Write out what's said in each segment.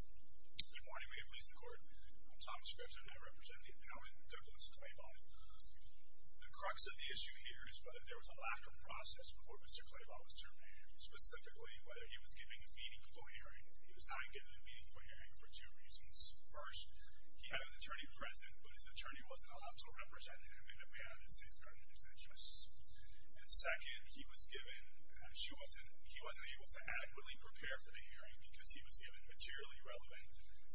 Good morning, may it please the court. I'm Thomas Scripps, and I represent the appellant Douglas Clabaugh. The crux of the issue here is whether there was a lack of process before Mr. Clabaugh was terminated. Specifically, whether he was given a meaningful hearing. He was not given a meaningful hearing for two reasons. First, he had an attorney present, but his attorney wasn't allowed to represent him in a manner that safeguarded his interests. And second, he was given, he wasn't able to adequately prepare for the hearing because he was given materially relevant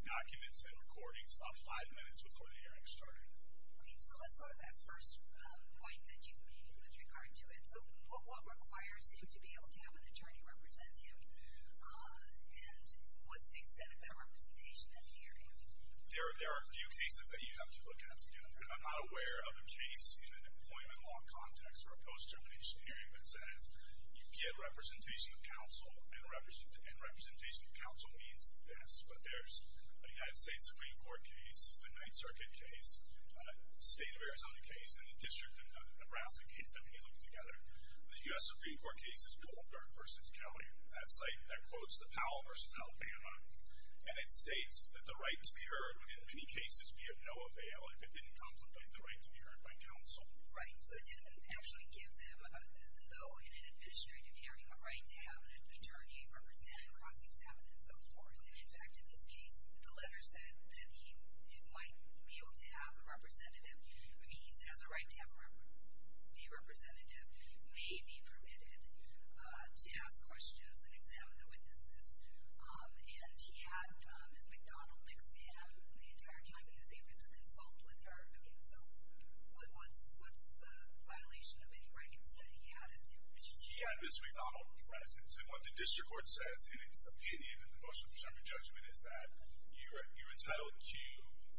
documents and recordings about five minutes before the hearing started. Okay, so let's go to that first point that you made with regard to it. So, what requires you to be able to have an attorney represent you? And what's the extent of their representation at the hearing? There are a few cases that you have to look at. I'm not aware of a case in an employment law context or a post-termination hearing that says you get representation of counsel and representation of counsel means the best. But there's a United States Supreme Court case, a Ninth Circuit case, a state of Arizona case, and a district of Nebraska case that may look together. The U.S. Supreme Court case is Goldberg v. County. That's like, that quotes the Powell v. Alpana. And it states that the right to be heard would in many cases be of no avail if it didn't complicate the right to be heard by counsel. Right, so it didn't actually give them, though in an administrative hearing, a right to have an attorney represent, cross-examine, and so forth. And in fact, in this case, the letter said that he might be able to have a representative, meaning he has a right to have a representative, may be permitted to ask questions and examine the witnesses. And he had Ms. McDonald next to him the entire time he was able to consult with her. I mean, so what's the violation of any rights that he had? He had Ms. McDonald present. So what the district court says in its opinion in the motion to present a judgment is that you're entitled to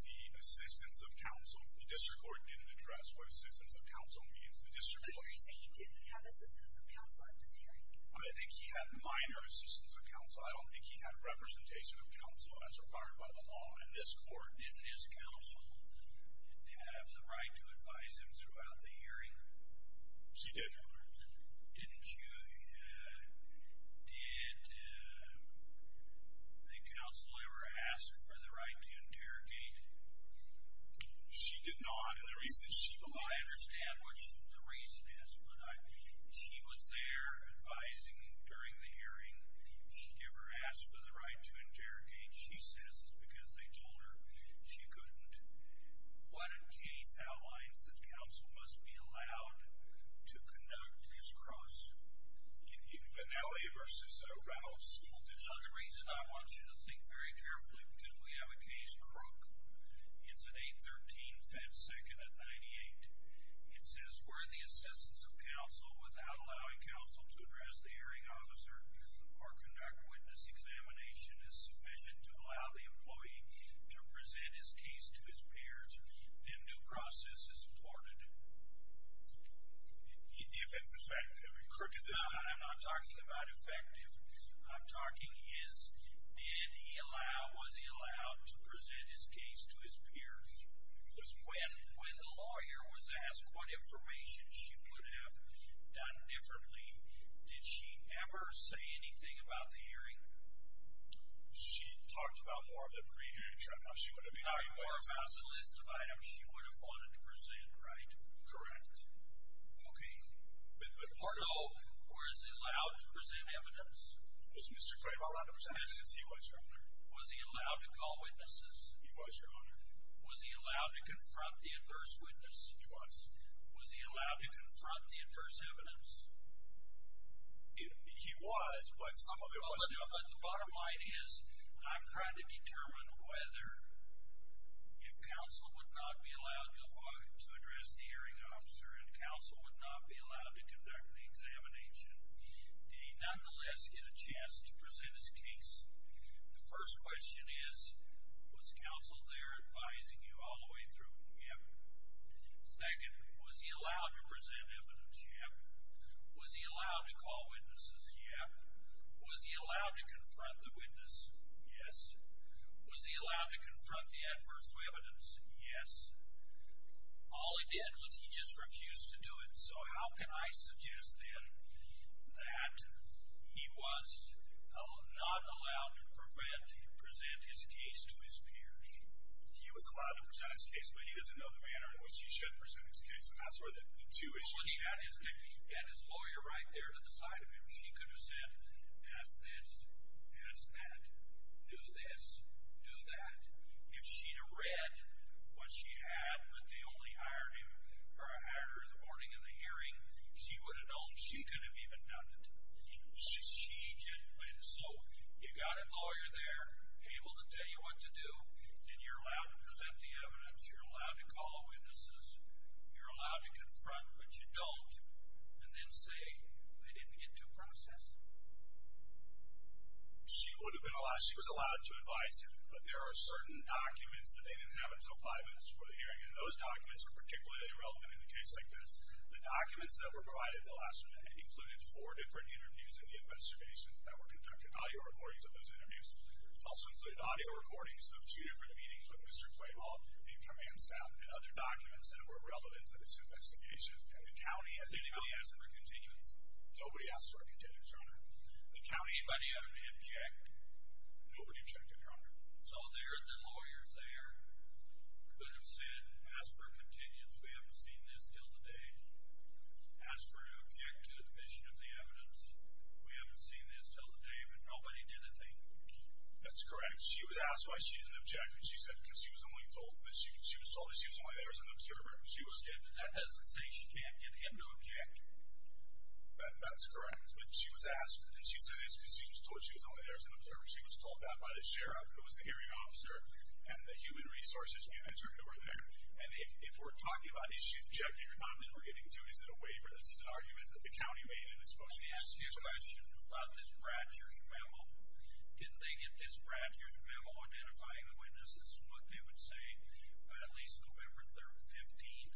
the assistance of counsel. The district court didn't address what assistance of counsel means. The district court— So you're saying he didn't have assistance of counsel at this hearing? I think he had minor assistance of counsel. I don't think he had representation of counsel as required by the law in this court. Didn't his counsel have the right to advise him throughout the hearing? She did. Didn't you? Did the counsel ever ask for the right to interrogate? She did not. I understand what the reason is, but she was there advising him during the hearing. She never asked for the right to interrogate. She says it's because they told her she couldn't. What case outlines that counsel must be allowed to conduct this cross? In Vannelli v. Arouse. This is the reason I want you to think very carefully, because we have a case, Crook. It's at 813 Fed Second at 98. It says where the assistance of counsel, without allowing counsel to address the hearing officer or conduct witness examination, is sufficient to allow the employee to present his case to his peers, then new process is afforded. If it's effective. Crook, is it? I'm not talking about effective. I'm talking is, did he allow, was he allowed to present his case to his peers? When the lawyer was asked what information she could have done differently, did she ever say anything about the hearing? She talked about more of the pre-hearing. She talked more about the list of items she would have wanted to present, right? Correct. Okay. So, was he allowed to present evidence? Was Mr. Crave allowed to present evidence? He was, Your Honor. Was he allowed to call witnesses? He was, Your Honor. Was he allowed to confront the adverse witness? He was. Was he allowed to confront the adverse evidence? He was, but some of it wasn't. But the bottom line is, I'm trying to determine whether if counsel would not be allowed to address the hearing officer and counsel would not be allowed to conduct the examination, did he nonetheless get a chance to present his case? The first question is, was counsel there advising you all the way through? Yep. Second, was he allowed to present evidence? Yep. Was he allowed to call witnesses? Yep. Was he allowed to confront the witness? Yes. Was he allowed to confront the adverse witness? Yes. All he did was he just refused to do it. So how can I suggest then that he was not allowed to present his case to his peers? He was allowed to present his case, but he doesn't know the manner in which he should present his case. And that's where the two issues come into play. Well, he had his lawyer right there at the side of him. She could have said, pass this, pass that, do this, do that. If she had read what she had with the only hire him or a hire the morning of the hearing, she would have known. She could have even done it. So you've got a lawyer there able to tell you what to do, and you're allowed to present the evidence, you're allowed to call witnesses, you're allowed to confront, but you don't, and then say they didn't get to process it. She was allowed to advise him, but there are certain documents that they didn't have until five minutes before the hearing, and those documents are particularly relevant in a case like this. The documents that were provided the last minute included four different interviews in the investigation that were conducted, audio recordings of those interviews. It also included audio recordings of two different meetings with Mr. Claywell, the command staff, and other documents that were relevant to this investigation. And the county, as anybody else, never continues. Nobody asked for a continuance, Your Honor. The county, anybody ever object? Nobody objected, Your Honor. So the lawyers there could have said, ask for a continuance. We haven't seen this till today. Ask for an object to the admission of the evidence. We haven't seen this till today. Nobody did a thing. That's correct. She was asked why she didn't object, and she said because she was only told. She was told she was only there as an observer. That doesn't say she can't get him to object. That's correct. But she was asked, and she said it's because she was told she was only there as an observer. She was told that by the sheriff who was the hearing officer and the human resources manager who were there. And if we're talking about objecting or not, then we're getting two. Is it a waiver? This is an argument that the county made, and it's supposed to be a waiver. Let me ask you a question about this Bradshers memo. Didn't they get this Bradshers memo identifying the witnesses, what they would say at least November 3rd, 15th?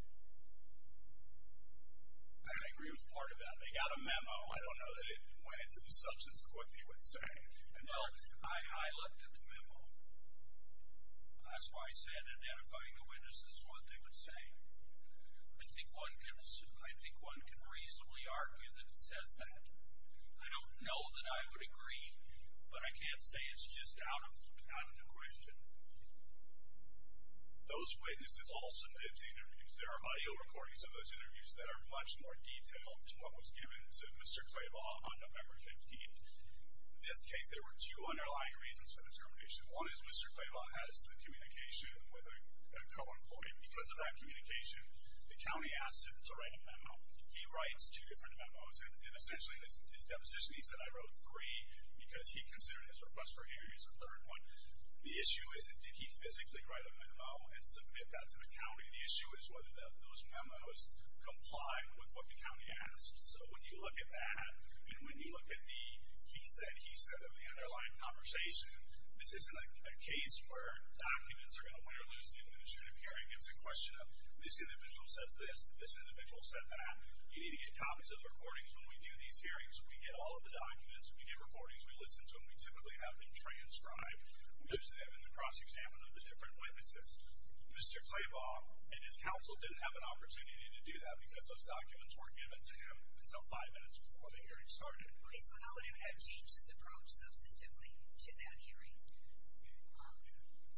I agree with part of that. They got a memo. I don't know that it went into the substance of what they would say. Well, I looked at the memo. That's why I said identifying the witnesses is what they would say. I think one can reasonably argue that it says that. I don't know that I would agree, but I can't say it's just out of the question. Those witnesses all submitted to interviews. There are audio recordings of those interviews that are much more detailed than what was given to Mr. Claybaugh on November 15th. In this case, there were two underlying reasons for the determination. One is Mr. Claybaugh has the communication with a co-employee. Because of that communication, the county asked him to write a memo. He writes two different memos, and essentially in his deposition he said, I wrote three because he considered his request for interviews the third one. The issue isn't did he physically write a memo and submit that to the county. The issue is whether those memos comply with what the county asked. So when you look at that, and when you look at the he said, he said of the underlying conversation, this isn't a case where documents are going to win or lose the administrative hearing. It's a question of this individual says this, this individual said that. You need to get copies of the recordings when we do these hearings. We get all of the documents. We get recordings. We listen to them. We typically have them transcribed. We listen to them in the cross-examination of the different witnesses. Mr. Claybaugh and his counsel didn't have an opportunity to do that because those documents weren't given to him until five minutes before the hearing started. Okay, so how would he have changed his approach substantively to that hearing?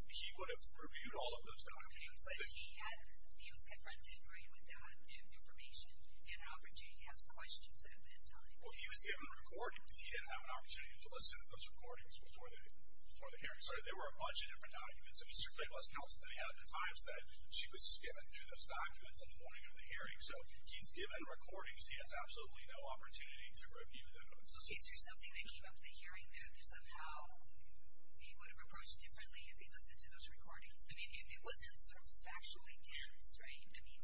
He would have reviewed all of those documents. Okay, but he was confronted, right, with that information and an opportunity to ask questions at that time. Well, he was given recordings. He didn't have an opportunity to listen to those recordings before the hearing started. There were a bunch of different documents. I mean, Mr. Claybaugh's counsel at the time said she was skimming through those documents on the morning of the hearing, so he's given recordings. He has absolutely no opportunity to review those. Is there something that came up at the hearing that somehow he would have approached differently if he listened to those recordings? I mean, it wasn't sort of factually dense, right? I mean,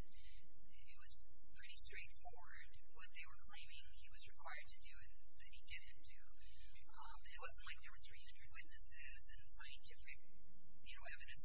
it was pretty straightforward what they were claiming he was required to do and that he didn't do. It wasn't like there were 300 witnesses and scientific evidence was being presented. That's correct, but in the hearing between Mr. Claybaugh and Mr. Blair, who's got a sibling employee, the word Good Old Boy Network came up. There's an election for sheriff, and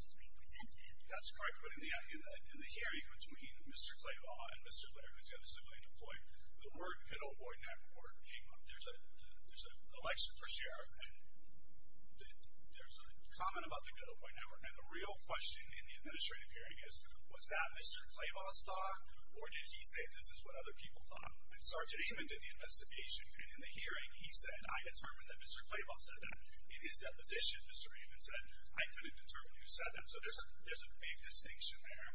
there's a comment about the Good Old Boy Network. Now, the real question in the administrative hearing is, was that Mr. Claybaugh's thought, or did he say this is what other people thought? And Sergeant Amon did the investigation. In the hearing, he said, I determined that Mr. Claybaugh said that. In his deposition, Mr. Amon said, I couldn't determine who said that. So there's a big distinction there.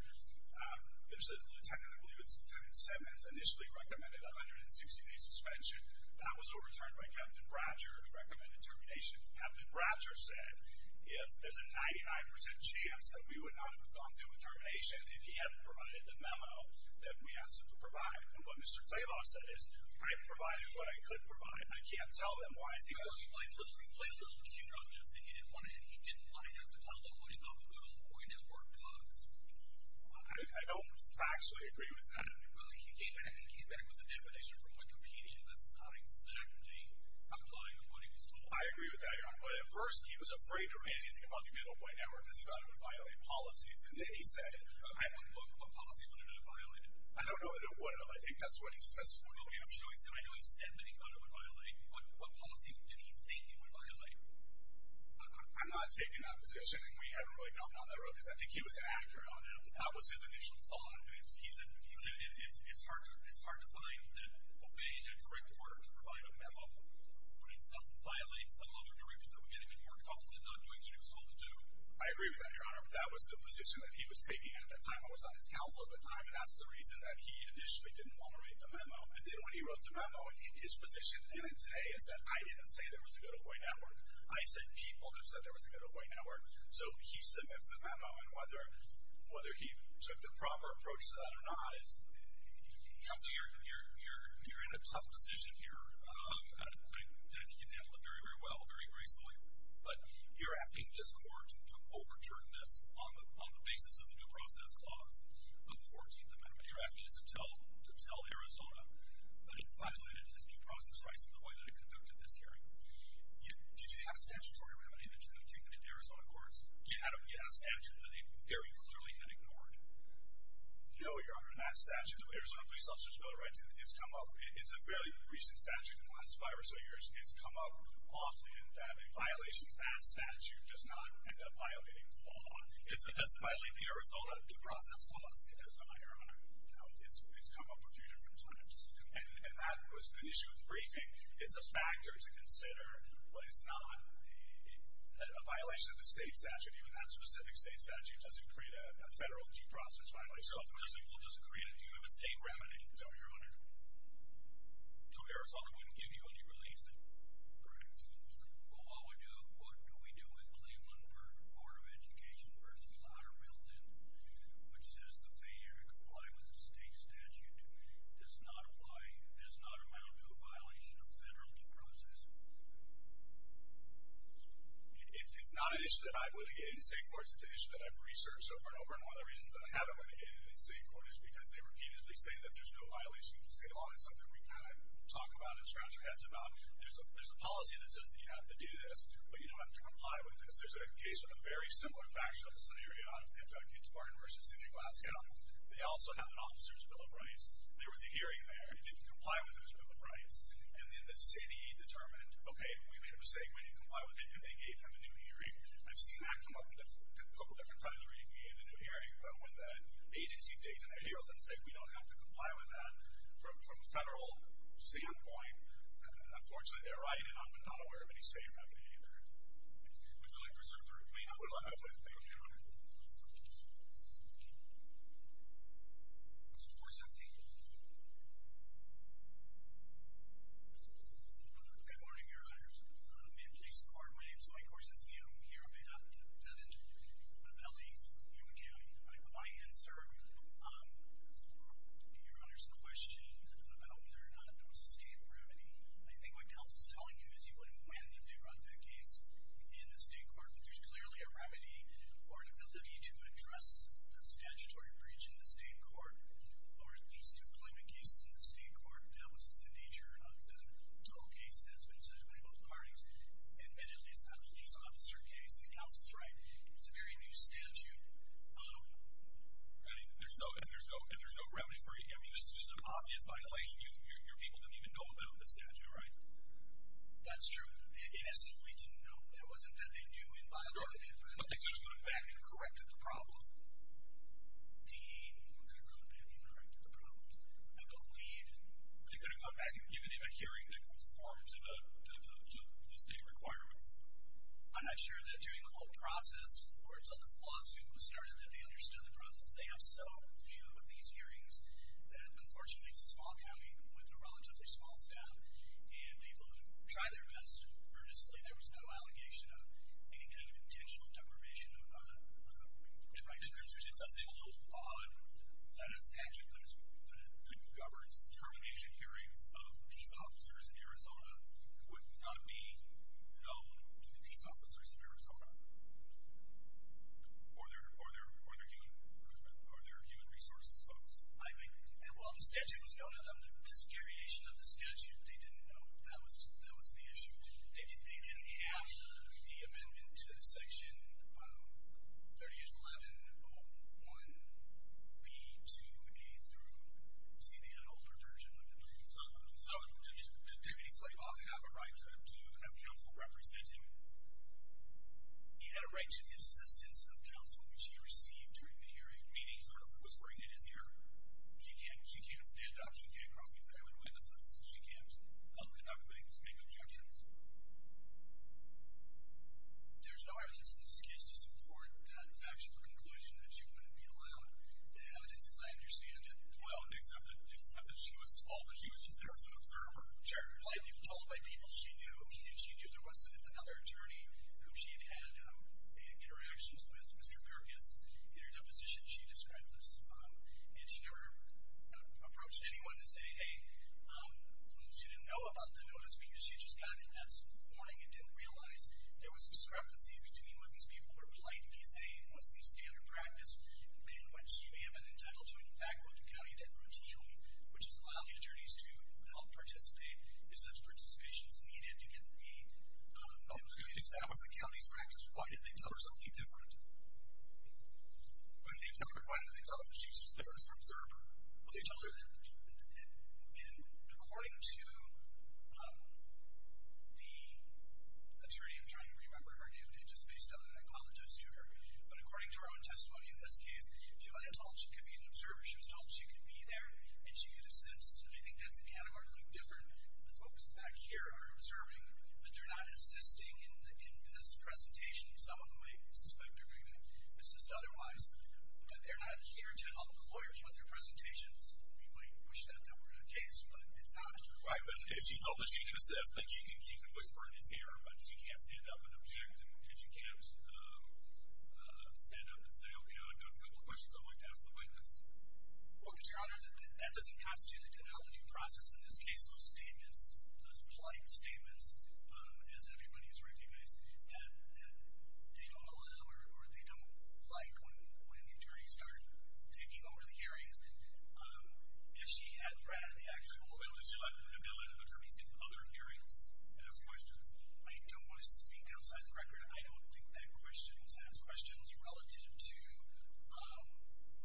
There's a lieutenant, I believe it's Lieutenant Simmons, initially recommended a 160-day suspension. That was overturned by Captain Bratcher who recommended termination. Captain Bratcher said, if there's a 99% chance that we would not have gone through with termination if he hadn't provided the memo that we asked him to provide. And what Mr. Claybaugh said is, I provided what I could provide. I can't tell them why. He played a little cute on this. He didn't want to have to tell them what he thought the Good Old Boy Network was. I don't factually agree with that. Well, he came back with a definition from Wikipedia. That's not exactly in line with what he was told. I agree with that. But at first, he was afraid to say anything about the Good Old Boy Network because he thought it would violate policies. And then he said, I don't know what policy he wanted to violate. I don't know that it would have. I think that's what his testimony was showing. I know he said that he thought it would violate. What policy did he think it would violate? I'm not taking that position. We haven't really gone down that road because I think he was inaccurate on it. That was his initial thought. He said it's hard to find that obeying a direct order to provide a memo would in itself violate some other directive that we gave him. It works off of him not doing what he was told to do. I agree with that, Your Honor. But that was the position that he was taking at that time. I was on his council at the time, and that's the reason that he initially didn't want to write the memo. And then when he wrote the memo, his position then and today is that I didn't say there was a Good Old Boy Network. I said people just said there was a Good Old Boy Network. So he submits the memo, and whether he took the proper approach to that or not is— Counselor, you're in a tough position here. I think you've handled it very, very well, very reasonably. But you're asking this court to overturn this on the basis of the new process clause of the 14th Amendment. You're asking to tell Arizona that it violated its due process rights in the way that it conducted this hearing. Did you have a statutory remedy that you have to submit to Arizona courts? You had a statute that they very clearly had ignored. No, Your Honor. That statute, the Arizona Police Officer's Bill of Rights has come up. It's a fairly recent statute in the last five or so years. It's come up often that a violation of that statute does not end up violating the law. It doesn't violate the Arizona due process clause, because, Your Honor, it's come up a few different times. And that was the issue of the briefing. It's a factor to consider, but it's not a violation of the state statute. Even that specific state statute doesn't create a federal due process violation. So, of course, it will just create a view of a state remedy. No, Your Honor. So Arizona wouldn't give you any relief then? Correct. Well, what we do is claim one part of Education v. Lowdermilk, which says the failure to comply with the state statute does not amount to a violation of federal due process. It's not an issue that I've litigated in state courts. It's an issue that I've researched. So, for one of the reasons that I haven't litigated in state courts is because they repeatedly say that there's no violation of state law. It's something we kind of talk about and scratch our heads about. There's a policy that says that you have to do this, but you don't have to comply with this. There's a case in a very similar fashion. This is an area out of Kentucky. It's Barton v. City of Glasgow. They also have an officer's bill of rights. There was a hearing there. He didn't comply with it as a bill of rights. And then the city determined, okay, we made a mistake. We didn't comply with it, and they gave him a due hearing. I've seen that come up a couple different times where you can get a due hearing, but when the agency takes in their heroes and says, we don't have to comply with that from a federal standpoint, unfortunately they're right, and I'm not aware of any state remedy there. Would you like to reserve the remainder? I would like to reserve the remainder. Thank you, Your Honor. Thank you. Mr. Korsensky. Good morning, Your Honor. May it please the Court, my name is Mike Korsensky. I'm here on behalf of the defendant of L.A. Yuma County. My answer to Your Honor's question about whether or not there was a state remedy, I think what counsel's telling you is you wouldn't plan to run that case in the state court, but there's clearly a remedy or an ability to address the statutory breach in the state court or at least to claim a case in the state court. That was the nature of the total case that's been submitted by both parties. And that is a police officer case, and counsel's right. It's a very new statute, and there's no remedy for it. I mean, this is just an obvious violation. Your people don't even know about the statute, right? That's true. They essentially didn't know. It wasn't that they knew in violation. But they could have gone back and corrected the problem. They could have gone back and corrected the problem, I believe. They could have gone back and given him a hearing that conformed to the state requirements. I'm not sure that during the whole process, or until this lawsuit was started, that they understood the process. They have so few of these hearings that, unfortunately, it's a small county with a relatively small staff and people who try their best earnestly. There was no allegation of any kind of intentional deprivation. In my district, it does say a little odd that a statute that governs termination hearings of peace officers in Arizona would not be known to the peace officers in Arizona. Are there human resources, folks? I think that while the statute was known, under the visceration of the statute, they didn't know. That was the issue. They didn't have the amendment to Section 381101B2A through C, the older version of the 18th Amendment. So did Deputy Flaybaugh have a right to have counsel representing him? He had a right to the assistance of counsel, which he received during the hearing, meaning sort of whispering in his ear, she can't stand up, she can't cross examine witnesses, she can't talk about things, make objections. There's no evidence in this case to support that factual conclusion that she wouldn't be allowed evidence, as I understand it. Well, except that she was told that she was just there as an observer, told by people she knew, and she knew there wasn't another attorney whom she had had interactions with. Ms. Americus, in her deposition, she described this, and she never approached anyone to say, hey, she didn't know about the notice because she just got it that morning and didn't realize there was discrepancy between what these people were politely saying, what's the standard practice, and when she may have been entitled to an in fact quote, you cannot use that routinely, which has allowed the attorneys to help participate. If such participation is needed, you can be able to establish a county's practice. Why did they tell her something different? Why did they tell her that she was just there as an observer? Well, they told her that, and according to the attorney, I'm trying to remember her name, and it's just based on that. I apologize to her. But according to her own testimony in this case, she wasn't told she could be an observer. She was told she could be there and she could assist. I think that's an anamorphic difference. The folks back here are observing, but they're not assisting in this presentation. Some of them I suspect are going to assist otherwise, but they're not here to help the lawyers with their presentations. We might push that number in a case, but it's not a requirement. She told that she could assist, that she could whisper in his ear, but she can't stand up and object and she can't stand up and say, okay, I've got a couple of questions I'd like to ask the witness. Well, Your Honor, that doesn't constitute a denial of due process in this case. Those statements, those polite statements, as everybody has recognized, that they don't allow or they don't like when the attorneys are taking over the hearings. If she had rather the actual ability to allow the attorneys in other hearings to ask questions, I don't want to speak outside the record. I don't think that questions asked questions relative to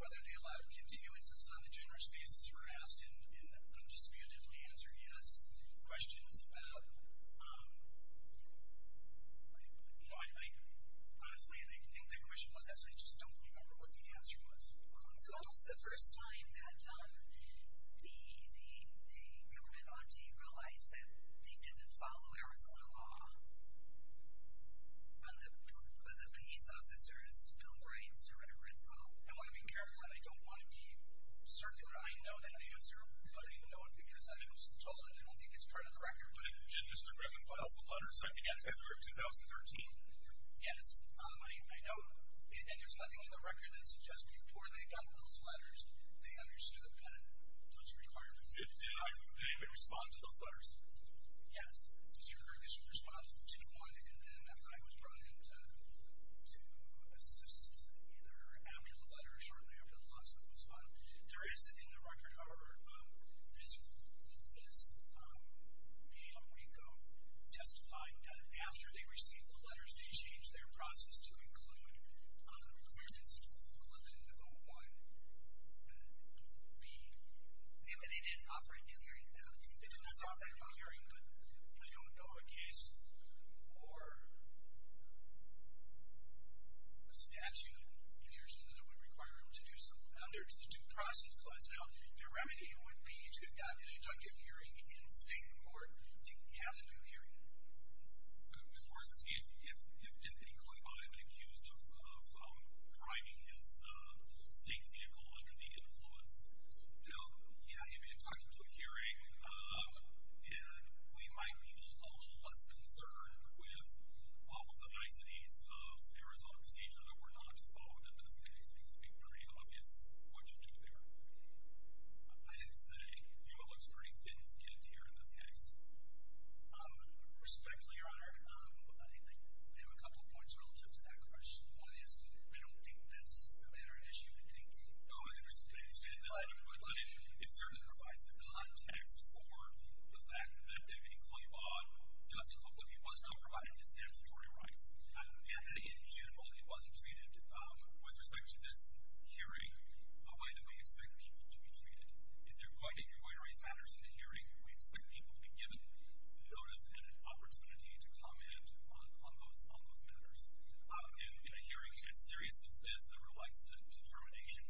whether they allowed continuances on a generous basis were asked in the undisputed answer, yes. Questions about, honestly, I think the question was that, so I just don't remember what the answer was. So when was the first time that the government auntie realized that they didn't follow Arizona law, when the police officers billed rights to renegades law? I want to be careful, and I don't want to be circular. I know that answer, but I know it because I was told it. I don't think it's part of the record. Did Mr. Griffin put out the letters after 2013? Yes. I know that there's nothing in the record that suggests before they got those letters, they understood them kind of, those requirements. Did anyone respond to those letters? Yes. Mr. Griffin responded to one, and then I was brought in to assist either after the letter or shortly after the letter. There is, in the record, however, this male RICO testifying done after they received the letters, they changed their process to include the requirements for 1101B. They didn't offer it in hearing, though. They did not offer it in hearing, but I don't know a case or a statute in Arizona that would require them to do something. Under the due process clause, now, the remedy would be to have gotten a deductive hearing in state court. Did he have a due hearing? Mr. Horst, if he did, did he claim that he had been accused of driving his state vehicle under the influence? No. Yeah, he had been inducted into a hearing, and we might be a little less concerned with all of the niceties of Arizona procedure even though we're not phoned in this case. It would be pretty obvious what you do there. I did say, you know, it looks pretty thin-skinned here in this case. Respectfully, Your Honor, I think we have a couple of points relative to that question. One is we don't think that's a matter of issue. We think, oh, I understand, but it certainly provides the context for the fact that Deputy Claiborne doesn't look like he was not provided his statutory rights, and that, in general, he wasn't treated with respect to this hearing the way that we expect people to be treated. There are quite a few white rights matters in the hearing. We expect people to be given notice and an opportunity to comment on those matters. In a hearing as serious as this that relies on determination,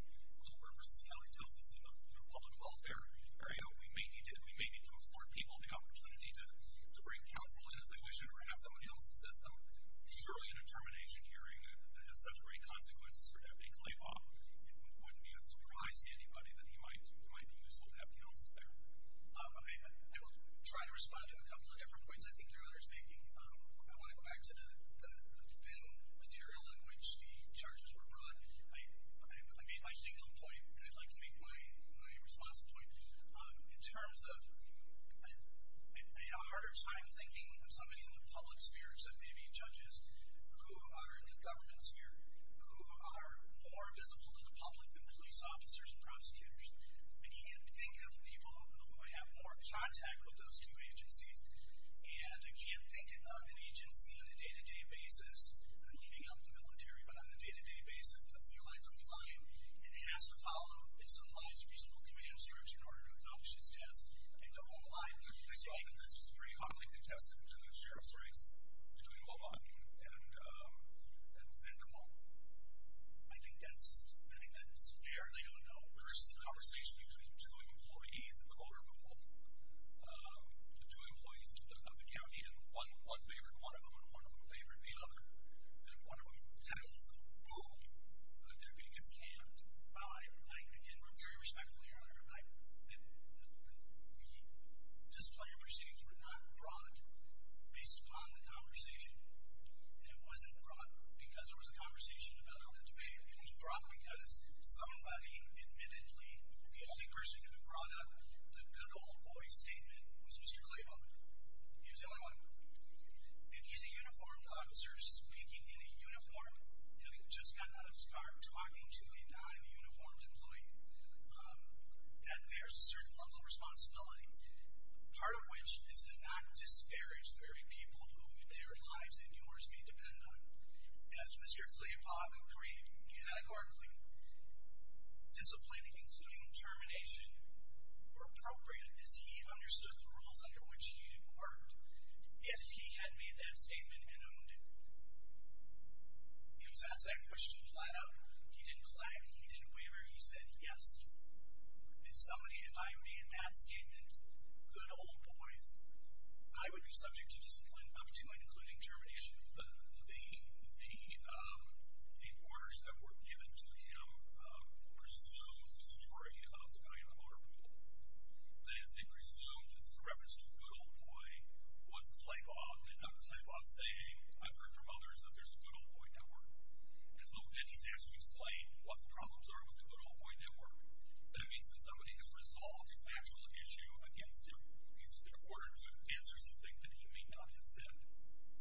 Claiborne v. County tells us in the public welfare area we may need to afford people the opportunity to bring counsel in If they wish to have someone else assist them, surely in a termination hearing that has such great consequences for Deputy Claiborne, it wouldn't be a surprise to anybody that he might be useful to have counsel there. I will try to respond to a couple of different points I think you're understanding. I want to go back to the thin material in which the charges were brought. I made my stinging point, and I'd like to make my responsive point. In terms of, I have a harder time thinking of somebody in the public sphere, except maybe judges who are in the government sphere, who are more visible to the public than police officers and prosecutors. I can't think of people who I have more contact with those two agencies, and I can't think of an agency on a day-to-day basis, I'm heating up the military, but on a day-to-day basis, and he has to follow his own lines of reasonable command, in order to accomplish his task. I think this was very commonly contested in the sheriff's race, between Beaumont and Vanderbilt. I think that's fair, they don't know. There was a conversation between two employees in the Boulder pool, the two employees of the county, and one favored one of them, and one of them favored the other. And one of the titles of Beaumont, the deputy gets camped by, again, I'm very respectful of your honor, the disciplinary proceedings were not brought based upon the conversation. It wasn't brought because there was a conversation about how the debate, it was brought because somebody, admittedly, the only person who could have brought up the good old boy statement, was Mr. Claiborne. He was the only one. If he's a uniformed officer speaking in a uniform, having just gotten out of his car, talking to a non-uniformed employee, then there's a certain level of responsibility, part of which is to not disparage the very people who their lives and yours may depend on. As Mr. Claiborne agreed, categorically, disciplining, including termination, were appropriate, as he understood the rules under which he inquired. If he had made that statement and owned it, he was asked that question flat out. He didn't clap. He didn't waver. He said yes. If somebody, if I made that statement, good old boys, I would be subject to disciplinary opportunity, including termination. The orders that were given to him, presumed the story about the guy on the motor pool, that is, they presumed, for reference to a good old boy, was Claiborne, and not Claiborne saying, I've heard from others that there's a good old boy network. And so then he's asked to explain what the problems are with the good old boy network. That means that somebody has resolved a factual issue against him. He's been ordered to answer something that he may not have said.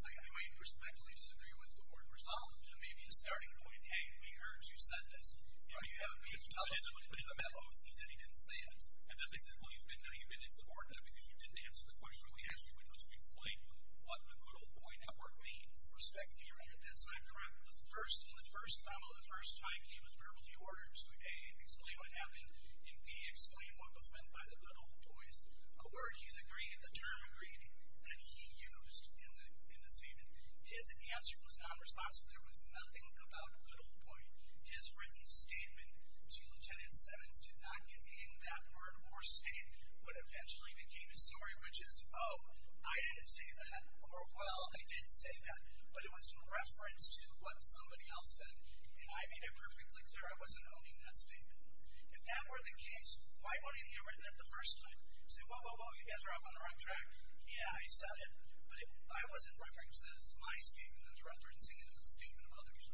I may perspectively disagree with the word resolved, but it may be a starting point. Hey, we heard you said this. You know, you have to tell us what you put in the mellows. He said he didn't say it. And then they said, well, you've been subordinated because you didn't answer the question we asked you, which was to explain what the good old boy network means. Perspective, you're right. That's not correct. The first, in the first, probably the first time he was verbal, he ordered him to A, explain what happened, and B, explain what was meant by the good old boys, a word he's agreed, the term agreed, that he used in the statement. His answer was nonresponsive. There was nothing about good old boy. His written statement to Lieutenant Simmons did not contain that word or state. What eventually became his story, which is, oh, I didn't say that, or, well, I did say that, but it was in reference to what somebody else said, and I made it perfectly clear I wasn't owning that statement. If that were the case, why wouldn't he have written that the first time? Say, whoa, whoa, whoa, you guys are off on the wrong track. Yeah, I said it, but I wasn't referencing it as my statement, I was referencing it as a statement of others.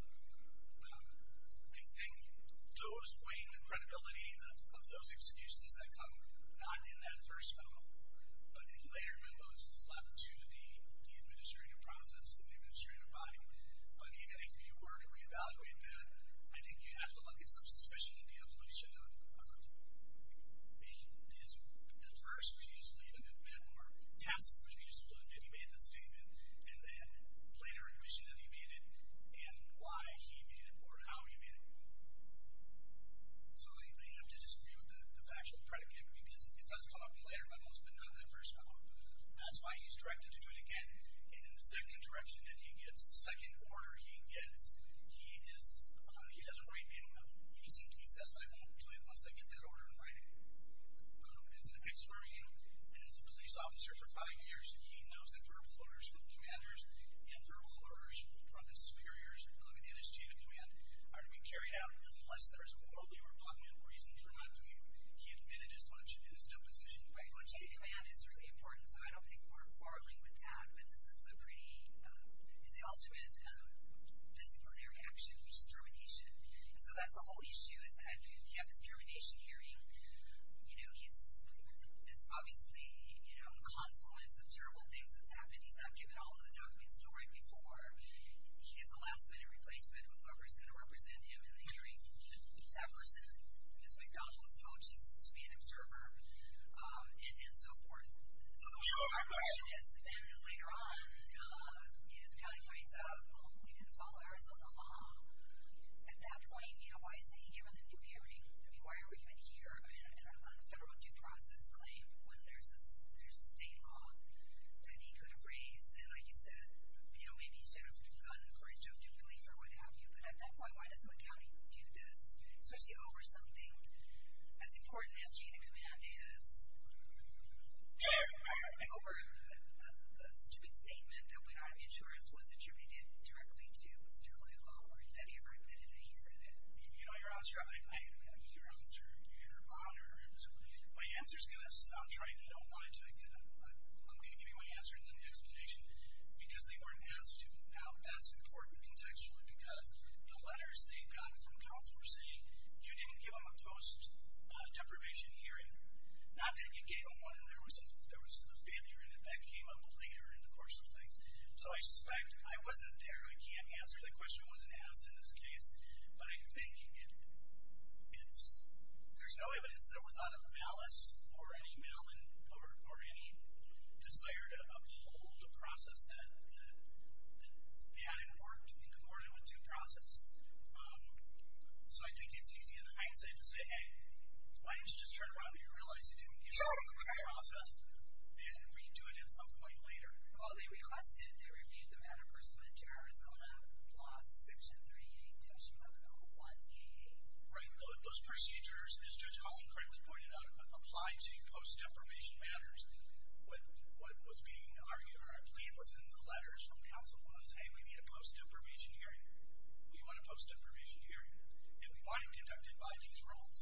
I think those weighing the credibility of those excuses that come not in that first memo, but in later memos, is left to the administrative process and the administrative body. But even if you were to reevaluate that, I think you have to look at some suspicion of the evolution of his, at first, which he just blew the memo, or task, which he just blew the memo, he made the statement, and then later admission that he made it, and why he made it, or how he made it. So they have to disprove the factual predicate, because it does come up in later memos, but not in that first memo. That's why he's directed to do it again. And then the second direction that he gets, the second order he gets, he is, he doesn't write memo memo. He seems to be says, I won't do it unless I get that order in writing. Well, as an expert, and as a police officer for five years, he knows that verbal orders from demanders, and verbal orders from his superiors, and let me get this to you, a demand are to be carried out unless there is a worldly or popular reason for not doing it. He admitted as much in his deposition. Right, well, taking a demand is really important, so I don't think we're quarreling with that, but this is a pretty, it's the ultimate disciplinary action, which is termination. And so that's the whole issue, is that you have this termination hearing, you know, he's, it's obviously, you know, a consequence of terrible things that's happened. He's not given all of the documents to write before. He gets a last minute replacement with whoever's going to represent him in the hearing. That person, Ms. McDonald was told she's to be an observer, and so forth. So, yes, and then later on, you know, the county finds out, well, he didn't follow Arizona law at that point. You know, why isn't he given a new hearing? I mean, why are we even here on a federal due process claim when there's a state law that he could have raised? And like you said, you know, maybe he should have gone for his job differently, or what have you. But that's why, why doesn't the county do this, especially over something as important as chain of command is? Over a stupid statement that went out of interest, was attributed directly to Mr. Clay Howard. Have you ever admitted that he said it? You know, your answer, your honor, my answer's going to sound trite. I don't want to. I'm going to give you my answer and then the explanation. Because they weren't asked how that's important contextually, because the letters they got from counsel were saying, you didn't give him a post-deprivation hearing. Not that you gave him one, and there was a failure in it that came up later in the course of things. So I suspect I wasn't there. I can't answer. The question wasn't asked in this case. But I think it's, there's no evidence that it was out of malice or any desire to uphold a process that they had in court in accordance with due process. So I think it's easy in hindsight to say, hey, why don't you just turn around and realize you didn't give him a due process and we can do it at some point later. Well, they requested, they reviewed the matter personally to Arizona Law Section 38-1101-K. Right. Those procedures, as Judge Collin correctly pointed out, apply to post-deprivation matters. What was being argued or a plea was in the letters from counsel was, hey, we need a post-deprivation hearing. We want a post-deprivation hearing. And we want it conducted by these rules.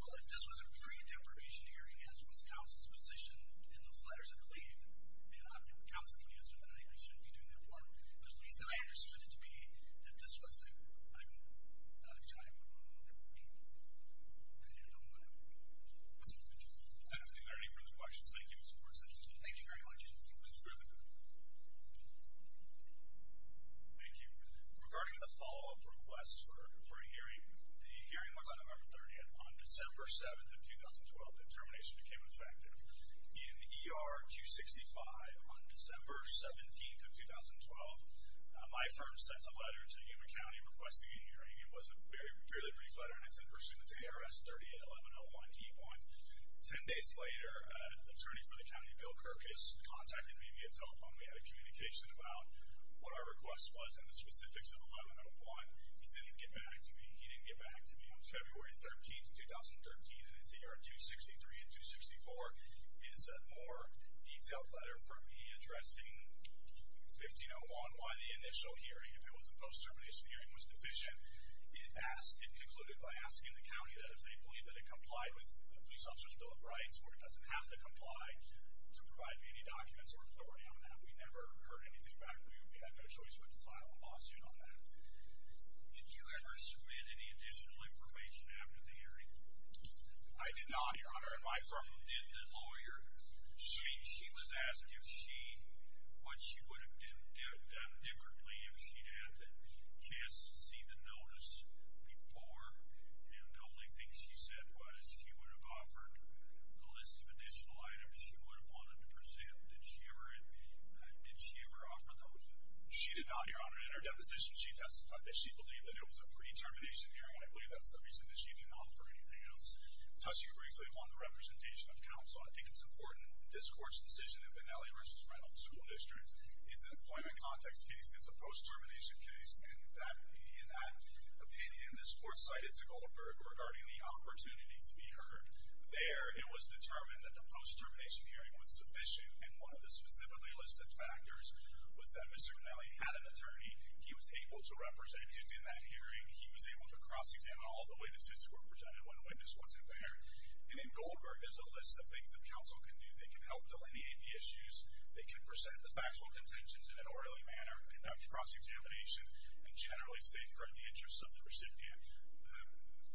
Well, if this was a pre-deprivation hearing as was counsel's position in those letters of plea, then counsel can answer that they shouldn't be doing that part. But at least I understood it to be, if this was a, I'm out of time, I don't know what happened. I don't think there are any further questions. Thank you. Thank you very much. It was really good. Thank you. Regarding the follow-up request for a hearing, the hearing was on November 30th. On December 7th of 2012, the determination became effective. In ER 265, on December 17th of 2012, my firm sent a letter to Yuma County requesting a hearing. It was a fairly brief letter, and it's in pursuant to ARS 38-1101-T1. Ten days later, an attorney for the county, Bill Kirkus, contacted me via telephone. We had a communication about what our request was and the specifics of 1101. He said he'd get back to me. He didn't get back to me. On February 13th of 2013, in ER 263 and 264, is a more detailed letter from me addressing 1501, why the initial hearing, if it was a post-termination hearing, was deficient. It concluded by asking the county that if they believe that it complied with the Police Officer's Bill of Rights, where it doesn't have to comply to provide me any documents, or if there were any on that. We never heard anything back. We had no choice but to file a lawsuit on that. I did not, Your Honor. My friend did, the lawyer. She was asked what she would have done differently if she'd had the chance to see the notice before, and the only thing she said was she would have offered the list of additional items she would have wanted to present. Did she ever offer those? She did not, Your Honor. In her deposition, she testified that she believed that it was a pre-termination hearing, and I believe that's the reason that she didn't offer anything else. Toshi Grigley won the representation of counsel. I think it's important. This Court's decision in Benelli v. Reynolds School District, it's an employment context case. It's a post-termination case. In that opinion, this Court cited Zuckerberg regarding the opportunity to be heard there. It was determined that the post-termination hearing was sufficient, and one of the specifically listed factors was that Mr. Benelli had an attorney. He was able to represent you in that hearing. He was able to cross-examine all the witnesses who were presented. Not one witness wasn't there. And in Goldberg, there's a list of things that counsel can do. They can help delineate the issues. They can present the factual contentions in an orally manner, conduct cross-examination, and generally safeguard the interests of the recipient.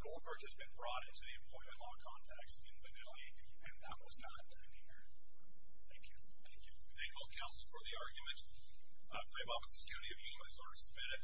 Goldberg has been brought into the employment law context in Benelli, and that was not an opportunity here. Thank you. Thank you. Thank all counsel for the argument. I play ball with the security of humans. Order submitted.